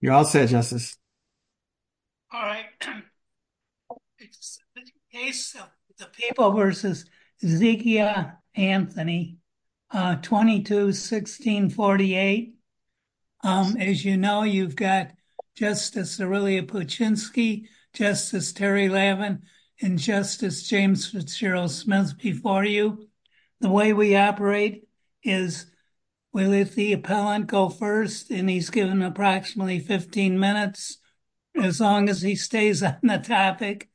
You're all set, Justice. All right. The People v. Zekiah Anthony, 22-1648. As you know, you've got Justice Aurelia Puchinsky, Justice Terry Levin, and Justice James Fitzgerald Smith before you. The way we operate is, we let the appellant go first, and he's given approximately 15 minutes, as long as he stays on the topic.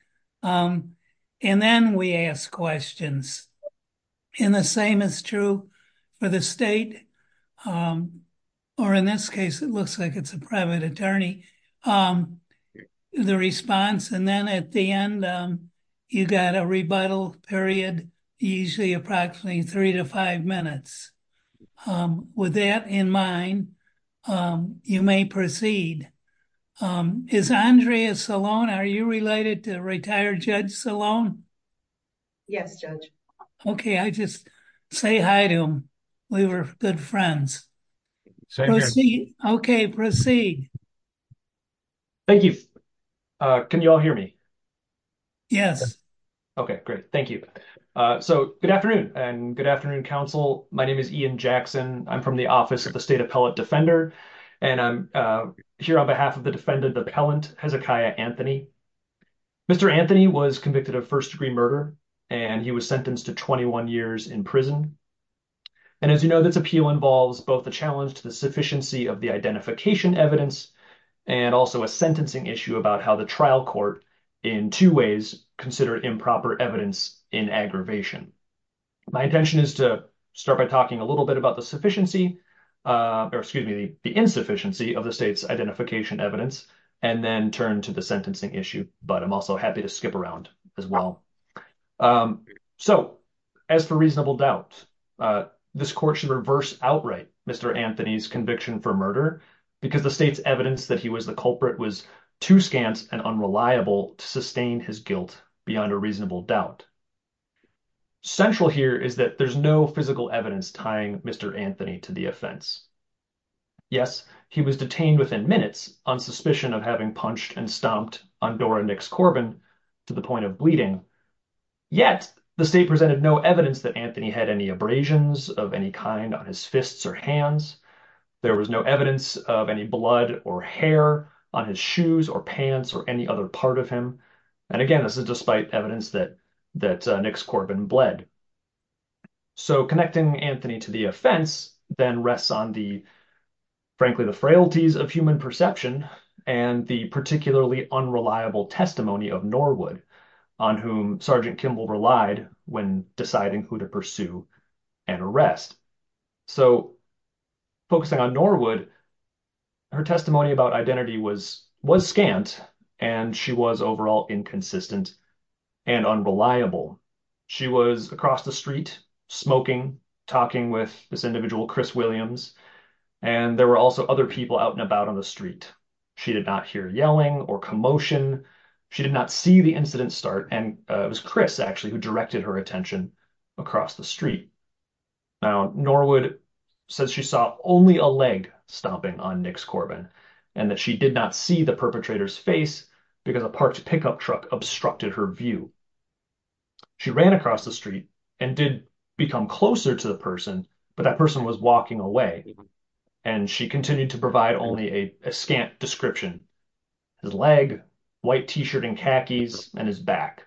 And then we ask questions. And the same is true for the state, or in this case, it looks like it's a private attorney, the response. And then at the end, you've got a rebuttal period, usually approximately three to five minutes. With that in mind, you may proceed. Is Andrea Salone, are you related to retired Judge Salone? Yes, Judge. Okay, I just say hi to him. We were good friends. Okay, proceed. Thank you. Can you all hear me? Yes. Okay, great. Thank you. So good afternoon, and good afternoon, counsel. My name is Ian Jackson. I'm from the Office of the State Appellate Defender. And I'm here on behalf of the defendant appellant, Hezekiah Anthony. Mr. Anthony was convicted of first-degree murder, and he was sentenced to 21 years in prison. And as you know, this appeal involves both the challenge to the sufficiency of the identification evidence, and also a sentencing issue about how the trial court in two ways consider improper evidence in aggravation. My intention is to start by talking a little bit about the insufficiency of the state's identification evidence, and then turn to the sentencing issue. But I'm also happy to skip around as well. So as for reasonable doubt, this court should reverse outright Mr. Anthony's conviction for to sustain his guilt beyond a reasonable doubt. Central here is that there's no physical evidence tying Mr. Anthony to the offense. Yes, he was detained within minutes on suspicion of having punched and stomped on Dora Nix Corbin to the point of bleeding. Yet the state presented no evidence that Anthony had any abrasions of any kind on his fists or hands. There was no evidence of any blood or hair on his shoes or pants or any other part of him. And again, this is despite evidence that that Nix Corbin bled. So connecting Anthony to the offense then rests on the, frankly, the frailties of human perception and the particularly unreliable testimony of Norwood, on whom Sergeant Kimball relied when deciding who to pursue and arrest. So focusing on Norwood, her testimony about identity was scant, and she was overall inconsistent and unreliable. She was across the street smoking, talking with this individual, Chris Williams, and there were also other people out and about on the street. She did not hear yelling or commotion. She did not see the incident start, and it was Chris, actually, directed her attention across the street. Now, Norwood says she saw only a leg stomping on Nix Corbin and that she did not see the perpetrator's face because a parked pickup truck obstructed her view. She ran across the street and did become closer to the person, but that person was walking away, and she continued to provide only a scant description. His leg, white t-shirt and khakis, and his back.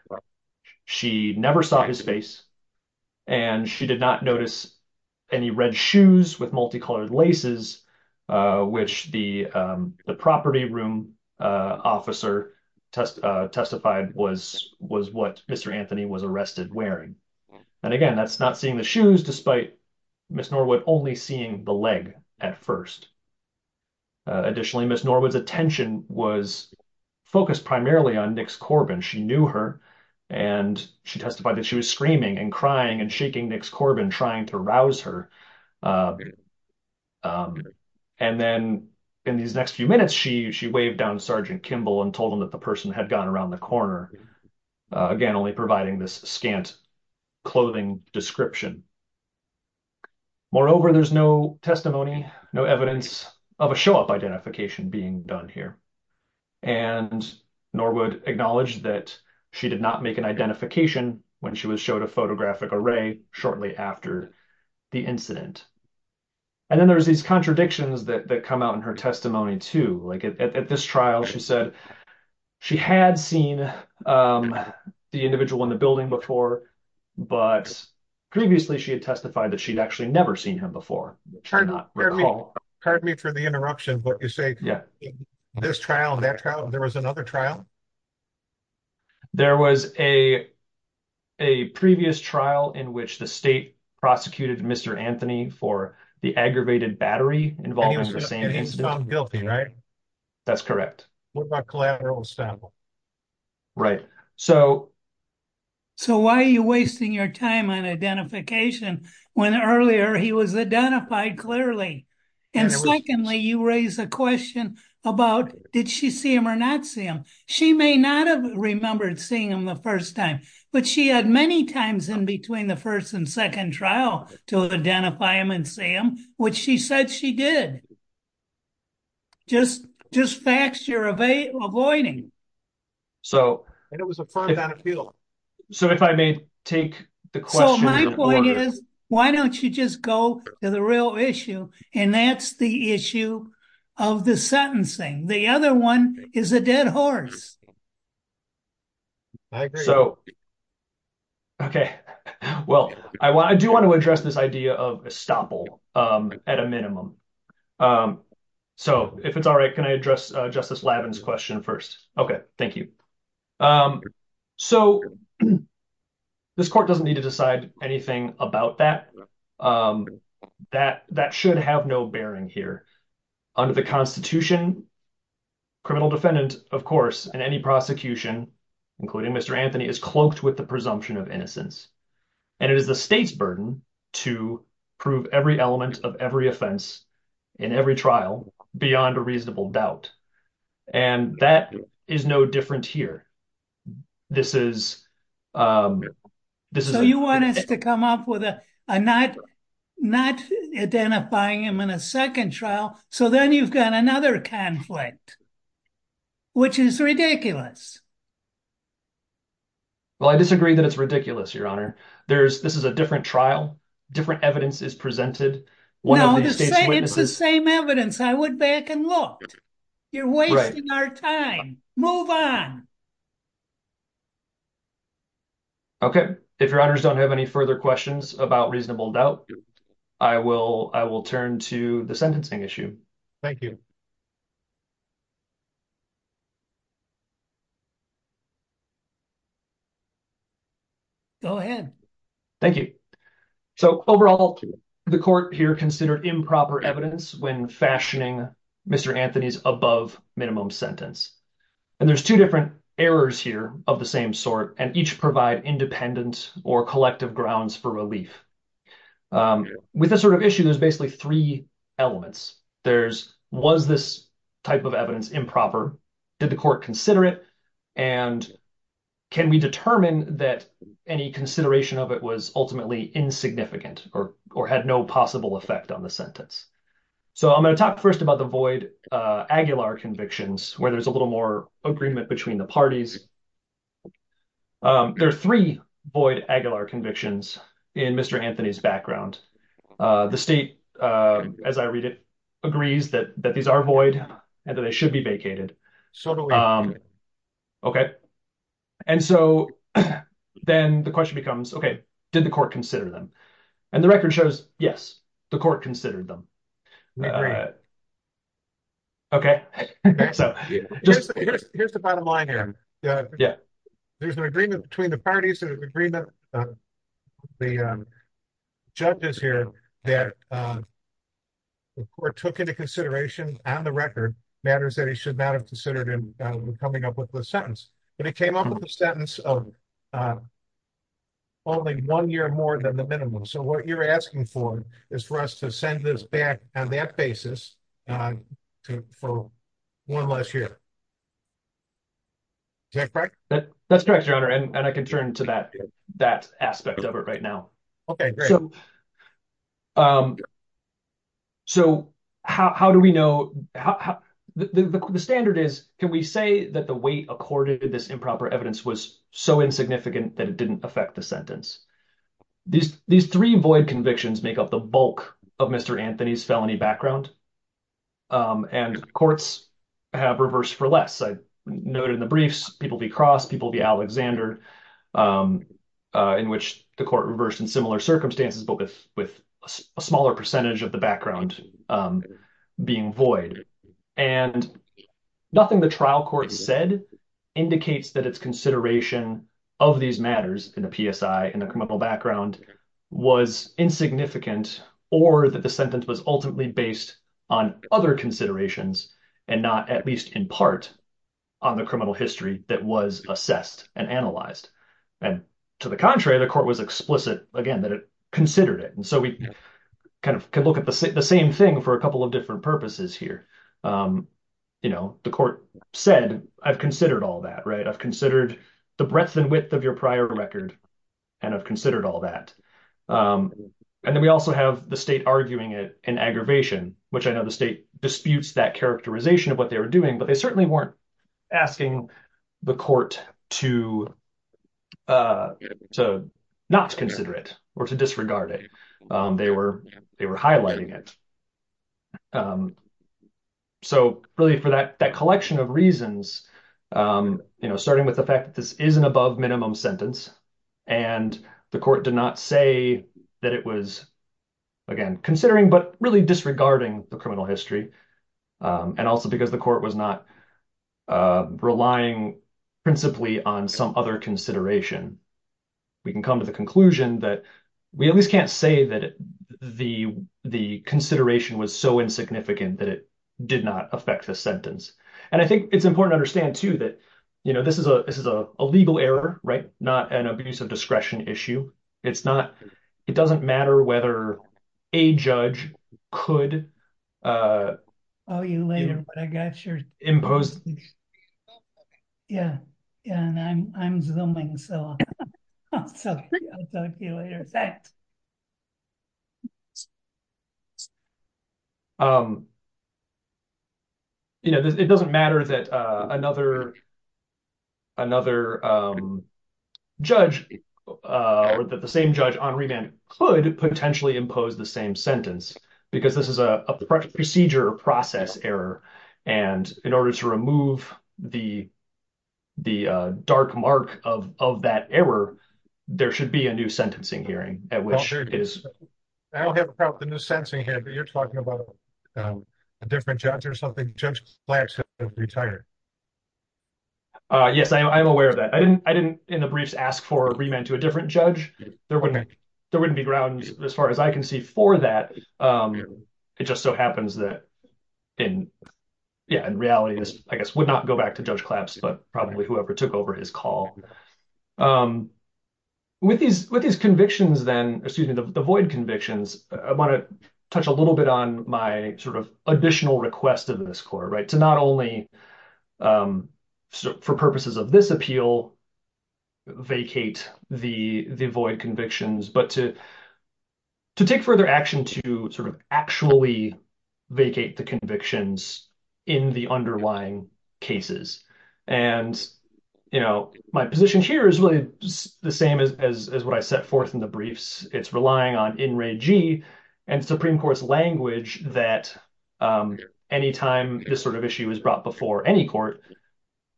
She never saw his face, and she did not notice any red shoes with multicolored laces, which the property room officer testified was what Mr. Anthony was arrested wearing. And again, that's not seeing the shoes, despite Miss Norwood only seeing the leg at first. Additionally, Miss Norwood's attention was focused primarily on Nix Corbin. She knew her, and she testified that she was screaming and crying and shaking Nix Corbin, trying to rouse her. And then in these next few minutes, she waved down Sergeant Kimball and told him that the person had gone around the corner, again only providing this scant clothing description. Moreover, there's no testimony, no evidence of a show-up identification being done here, and Norwood acknowledged that she did not make an identification when she was showed a photographic array shortly after the incident. And then there's these contradictions that come out in her testimony, too. Like at this trial, she said she had seen the individual in the building before, but previously, she had testified that she'd actually never seen him before. Pardon me for the interruption, but you say this trial, that trial, there was another trial? There was a previous trial in which the state prosecuted Mr. Anthony for the aggravated battery involved in the same incident. And he was found guilty, right? That's correct. What about collateral establishment? Right. So why are you wasting your time on identification when earlier he was identified clearly? And secondly, you raise a question about did she see him or not see him? She may not have remembered seeing him the first time, but she had many times in between the first and second trial to identify him and see him, which she said she did. Just facts you're avoiding. And it was affirmed on appeal. So if I may take the question in order. So my point is, why don't you just go to the real issue? And that's the issue of the sentencing. The other one is a dead horse. I agree. So, okay. Well, I do want to address this idea of estoppel at a minimum. So if it's all right, can I address Justice Lavin's question first? Okay. Thank you. So this court doesn't need to decide anything about that. That should have no bearing here. Under the constitution, criminal defendant, of course, in any prosecution, including Mr. Anthony, is cloaked with the presumption of innocence. And it is the state's burden to prove every element of every offense in every trial beyond a reasonable doubt. And that is no different here. This is... So you want us to come up with a not identifying him in a second trial. So then you've got another conflict, which is ridiculous. Well, I disagree that it's ridiculous, Your Honor. This is a different trial. Different evidence is presented. It's the same evidence. I went back and looked. You're wasting our time. Move on. Okay. If Your Honors don't have any further questions about reasonable doubt, I will turn to the sentencing issue. Thank you. Go ahead. Thank you. So overall, the court here considered improper evidence when fashioning Mr. Anthony's above minimum sentence. And there's two different errors here of the same sort, and each provide independent or collective grounds for relief. With this sort of issue, there's basically three elements. There's was this type of evidence improper? Did the court consider it? And can we determine that any consideration of it was ultimately insignificant or had no possible effect on the sentence? So I'm going to talk first about the void Aguilar convictions, where there's a little more agreement between the parties. There are three void Aguilar convictions in Mr. Anthony's background. The state, as I read it, agrees that these are void and that they should be vacated. Okay. And so then the question becomes, okay, did the court consider them? And the record shows, yes, the court considered them. Okay. Here's the bottom line here. There's an agreement between the parties that have agreed that the judges here that the court took into consideration on the record matters that he should not have considered in coming up with the sentence. But it came up with a sentence of only one year more than the minimum. So what you're asking for is for us to send this back on that basis for one less year. Is that correct? That's correct, Your Honor. And I can turn to that aspect of it right now. Okay, great. So how do we know? The standard is, can we say that the way accorded this improper evidence was so insignificant that it didn't affect the sentence? These three void convictions make up the bulk of Mr. Anthony's felony background. And courts have reversed for less. I noted in the briefs, people be Cross, people be Alexander, in which the court reversed in similar circumstances, but with a smaller percentage of the background being void. And nothing the trial court said indicates that its consideration of these matters in the PSI in the criminal background was insignificant or that the sentence was ultimately based on other considerations and not at least in part on the criminal history that was assessed and analyzed. And to the contrary, the court was explicit again that it considered it. And so we kind of can look at the same thing for a couple of different purposes here. The court said, I've considered all that, right? I've considered the breadth and width of your prior record and I've considered all that. And then we also have the state arguing it in aggravation, which I know the state disputes that characterization of what they were doing, but they certainly weren't asking the court to not consider it or to disregard it. They were highlighting it. So really for that collection of reasons, starting with the fact that this is an above minimum sentence and the court did not say that it was, again, considering, but really disregarding the criminal history. And also because the court was not relying principally on some other consideration. We can come to the conclusion that we at least can't say that the consideration was so insignificant that it did not affect the sentence. And I think it's important to understand too that this is a legal error, right? Not an abuse of discretion issue. It doesn't matter whether a judge could impose. It doesn't matter that another judge or that the same judge on the same sentence, because this is a procedure process error. And in order to remove the dark mark of that error, there should be a new sentencing hearing. I don't have a problem with the new sentencing hearing, but you're talking about a different judge or something. Judge Flax has retired. Yes, I'm aware of that. I didn't in the briefs ask for a remand to a different judge. There wouldn't be ground as far as I can see for that. It just so happens that in reality, this, I guess, would not go back to Judge Claps, but probably whoever took over his call. With these convictions then, excuse me, the void convictions, I want to touch a little bit on my sort of additional request of this court, right? To not only, for purposes of this appeal, vacate the void convictions, but to take further action to sort of actually vacate the convictions in the underlying cases. And, you know, my position here is really the same as what I set forth in the briefs. It's relying on in regi and Supreme Court's language that anytime this sort of issue is brought before any court,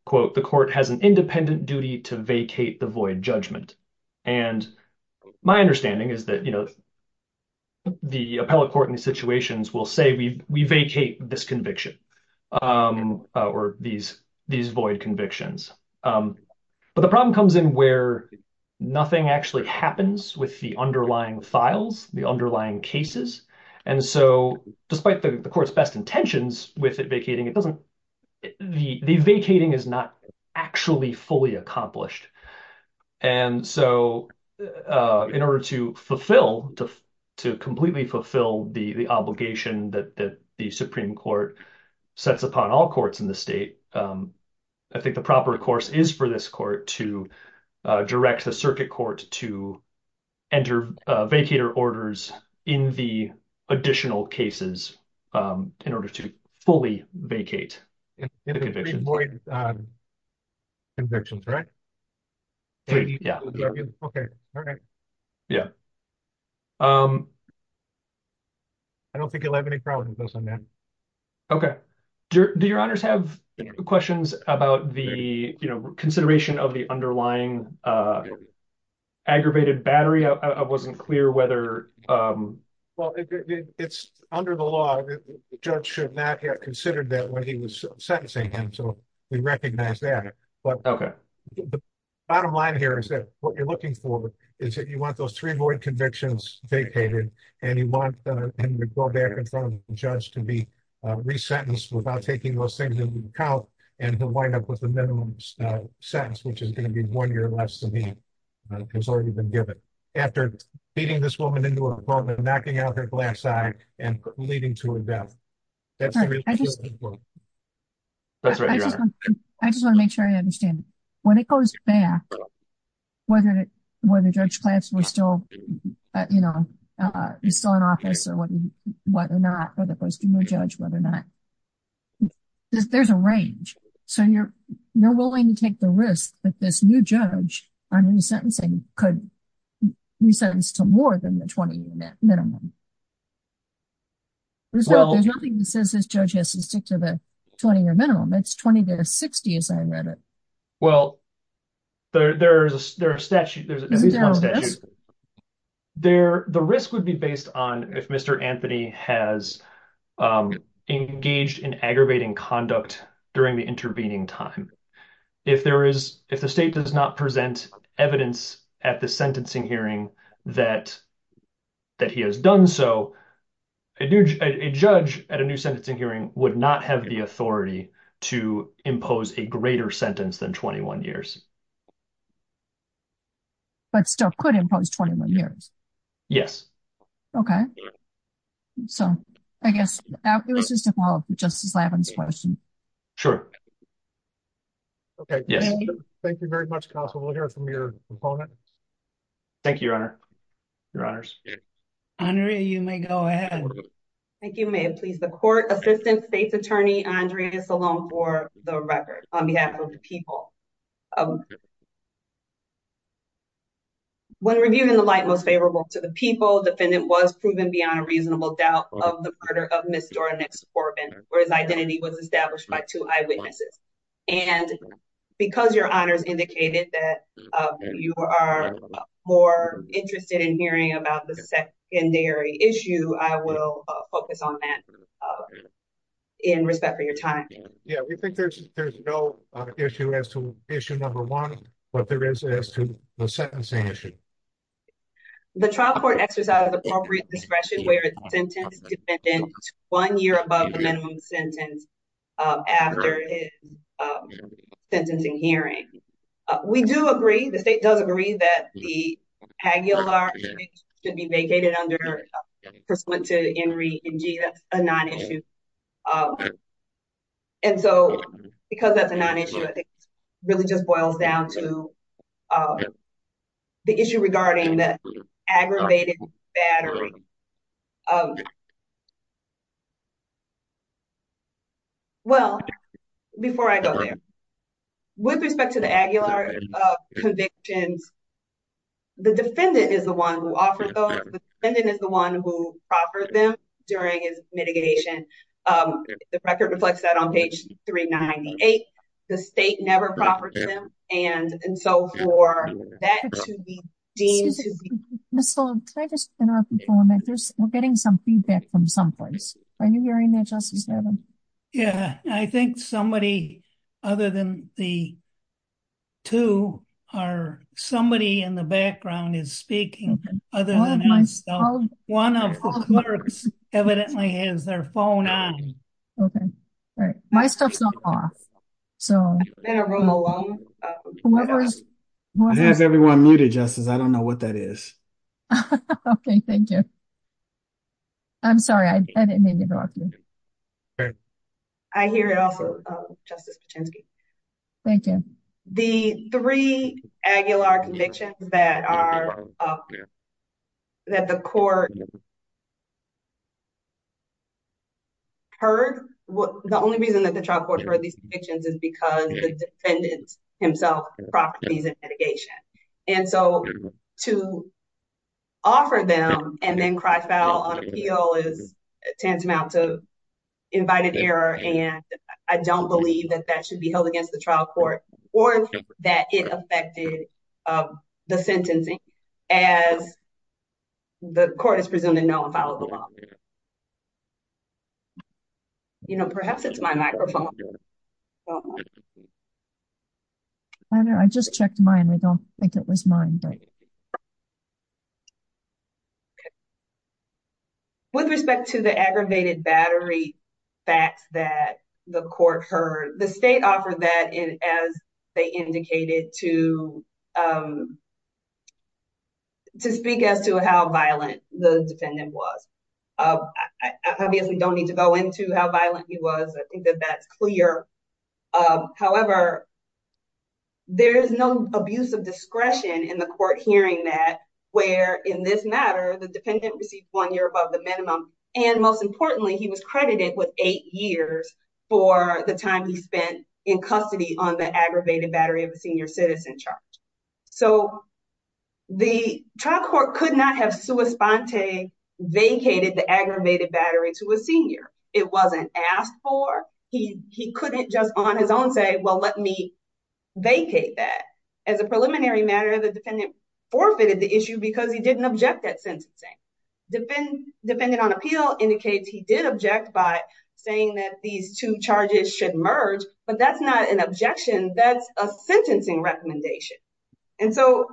quote, the court has an independent duty to vacate the void judgment. And my understanding is that, you know, the appellate court in these situations will say, we vacate this conviction or these void convictions. But the problem comes in where nothing actually happens with the underlying files, the underlying cases. And so despite the court's best intentions with it vacating, it doesn't, the vacating is not actually fully accomplished. And so in order to fulfill, to completely fulfill the obligation that the Supreme Court sets upon all courts in the state, I think the proper course is for this court to direct the circuit court to enter vacator orders in the additional cases in order to fully vacate the convictions. In the three void convictions, right? Okay. All right. Yeah. I don't think you'll have any problems with those on that. Okay. Do your honors have questions about the, you know, consideration of the underlying aggravated battery? I wasn't clear whether... It's under the law, the judge should not have considered that when he was sentencing him. So we recognize that. But the bottom line here is that what you're looking for is that you want those three void convictions vacated and you want him to go back in front of the judge to be resentenced without taking those things into account. And he'll wind up with the minimum sentence, which is going to be one year less than he has already been given. After beating this woman into a corner, knocking out her glass eye and leading to a death. I just want to make sure I understand. When it goes back, whether the judge class was still, you know, is still in office or what or not, whether it goes to a new judge, whether or not, there's a range. So you're willing to take the risk that this new judge, on resentencing, could resentence to more than the 20-year minimum. There's nothing that says this judge has to stick to the 20-year minimum. It's 20 to 60, as I read it. Well, there's a statute, there's at least one statute. The risk would be based on if Mr. Anthony has engaged in aggravating conduct during the evidence at the sentencing hearing that he has done so, a judge at a new sentencing hearing would not have the authority to impose a greater sentence than 21 years. But still could impose 21 years? Yes. Okay. So I guess it was just a follow-up to Justice Lavin's question. Sure. Okay. Yes. Thank you very much, counsel. We'll hear from your opponent. Thank you, Your Honor. Your Honors. Andrea, you may go ahead. Thank you, ma'am. Please, the court assistant state's attorney, Andrea Salone, for the record on behalf of the people. When reviewed in the light most favorable to the people, defendant was proven beyond reasonable doubt of the murder of Ms. Dora Nix Corbin, where his identity was established by two eyewitnesses. And because Your Honors indicated that you are more interested in hearing about the secondary issue, I will focus on that in respect for your time. Yeah, we think there's no issue as to issue number one, but there is as to the sentencing issue. The trial court exercised appropriate discretion where the sentence defendant is one year above the minimum sentence after his sentencing hearing. We do agree, the state does agree, that the Pagliolari case should be vacated pursuant to NRENG. That's a non-issue. And so, because that's a non-issue, I think it really just boils down to the issue regarding the aggravated battery. Well, before I go there, with respect to the Aguilar convictions, the defendant is the one who proffered them during his mitigation. The record reflects that on page 398. The state never proffered them, and so for that to be deemed to be... Ms. Sullivan, can I just interrupt you for a minute? We're getting some feedback from someplace. Are you hearing that, Justice Levin? Yeah, I think somebody, other than the two, somebody in the background is speaking, other than myself. One of the clerks evidently has their phone on. Okay, all right. My stuff's not off, so... It has everyone muted, Justice. I don't know what that is. Okay, thank you. I'm sorry, I didn't mean to interrupt you. I hear it also, Justice Paczynski. Thank you. The three Aguilar convictions that the court heard, the only reason that the trial court heard these convictions is because the defendant himself proffered these in mitigation. And so, to offer them and then cry foul on appeal tends to amount to invited error, and I don't believe that that should be held against the trial court or that it affected the sentencing as the court is presumed to know and follow the law. You know, perhaps it's my microphone. I don't know. I just checked mine. We don't think it was mine, but... Okay. With respect to the aggravated battery facts that the court heard, the state offered that as they indicated to speak as to how violent the defendant was. I obviously don't need to go into how violent he was. I think that that's clear. However, there is no abuse of discretion in the court hearing that, where in this matter, the defendant received one year above the minimum, and most importantly, he was credited with eight years for the time he spent in custody on the aggravated battery of a senior citizen charge. So, the trial court could not have sua sponte vacated the aggravated battery to a senior. It wasn't asked for. He couldn't just on his own say, let me vacate that. As a preliminary matter, the defendant forfeited the issue because he didn't object that sentencing. Defendant on appeal indicates he did object by saying that these two charges should merge, but that's not an objection. That's a sentencing recommendation. And so,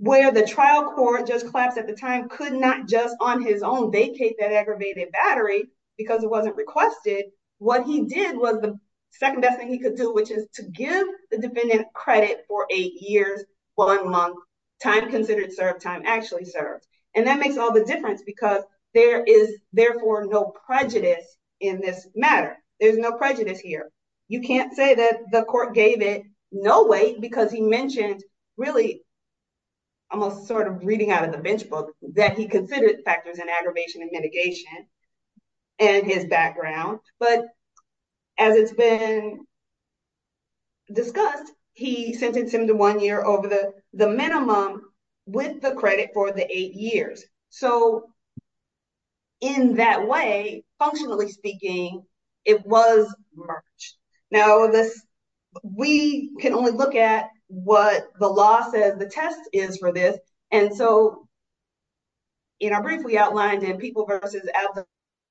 where the trial court just collapsed at the time could not just on his own vacate that aggravated battery because it wasn't requested. What he did was the second best thing he could do, which is to give the defendant credit for eight years, one month, time considered served, time actually served. And that makes all the difference because there is therefore no prejudice in this matter. There's no prejudice here. You can't say that the court gave it no weight because he mentioned really almost sort of reading out of the bench book that he considered factors in and his background. But as it's been discussed, he sentenced him to one year over the minimum with the credit for the eight years. So, in that way, functionally speaking, it was merged. Now, we can only look at what the law says the test is for this. And so, in our brief, we outlined in People versus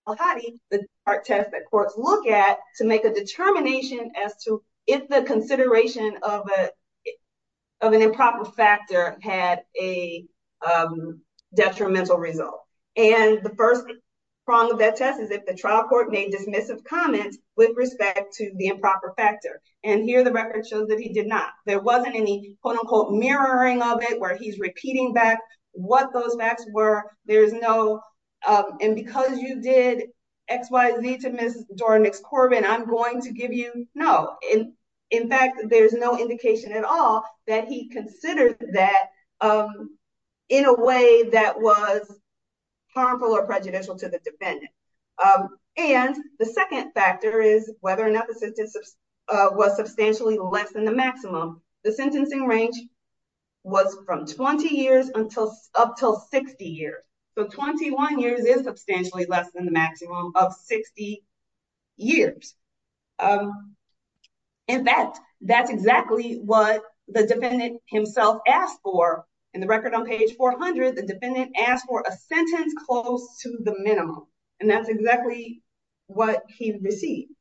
Al-Khadi, the test that courts look at to make a determination as to if the consideration of an improper factor had a detrimental result. And the first prong of that test is if the trial court made dismissive comments with respect to the improper factor. And here, the record shows that he did not. There wasn't any, quote, unquote, mirroring of it where he's repeating back what those facts were. There's no, and because you did X, Y, Z to Ms. Dornick's Corbin, I'm going to give you no. In fact, there's no indication at all that he considered that in a way that was harmful or prejudicial to the defendant. And the second factor is whether or not the sentence was substantially less than the maximum. The sentencing range was from 20 years up till 60 years. So, 21 years is substantially less than the maximum of 60 years. In fact, that's exactly what the defendant himself asked for. In the record on page 400, the defendant asked for a sentence close to the minimum. And that's exactly what he received.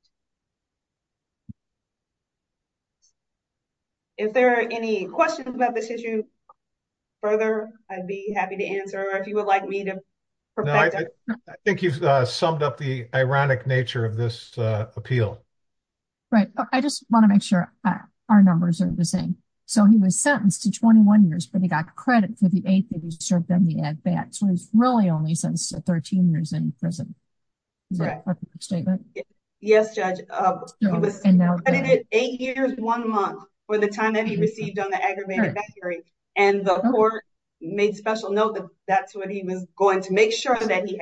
If there are any questions about this issue further, I'd be happy to answer. If you would like me to perfect it. I think you've summed up the ironic nature of this appeal. Right. I just want to make sure our numbers are the same. So, he was sentenced to 21 years, but he got credit for the eighth day he served on the ad bat. So, he's really only since 13 years in prison. Yes, Judge. He was credited eight years, one month for the time that he received on the aggravated battery. And the court made special note that that's what he was going to make sure that he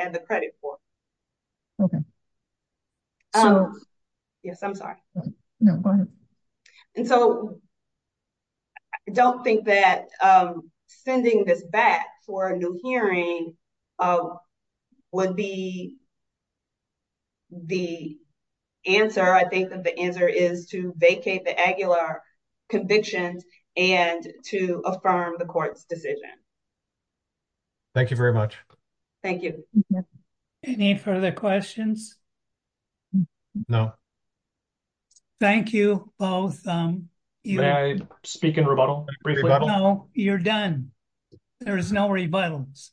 for a new hearing would be the answer. I think that the answer is to vacate the Aguilar convictions and to affirm the court's decision. Thank you very much. Thank you. Any further questions? No. Thank you both. May I speak in rebuttal? No, you're done. There is no rebuttals.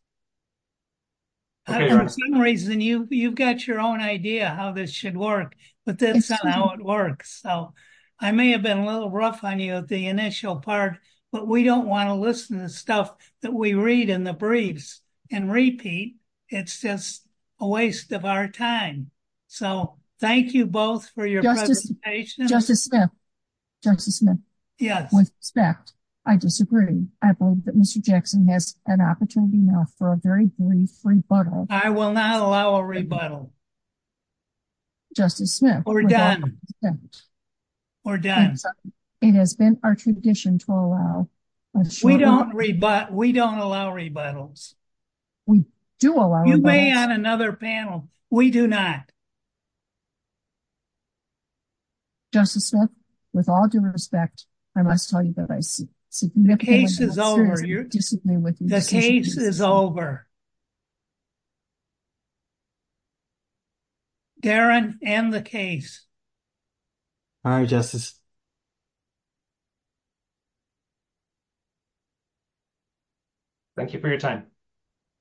For some reason, you've got your own idea how this should work, but that's not how it works. So, I may have been a little rough on you at the initial part, but we don't want to listen to stuff that we read in the briefs and repeat. It's just a waste of our time. So, thank you both for your presentation. Justice Smith. Justice Smith. Yes. With respect, I disagree. I believe that Mr. Jackson has an opportunity now for a very brief rebuttal. I will not allow a rebuttal. Justice Smith. We're done. We're done. It has been our tradition to allow. We don't allow rebuttals. We do allow rebuttals. You may add another panel. We do not. Justice Smith, with all due respect, I must tell you that I significantly disagree with you. The case is over. Darren, end the case. Aye, Justice. Thank you for your time.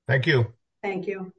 Thank you. Thank you.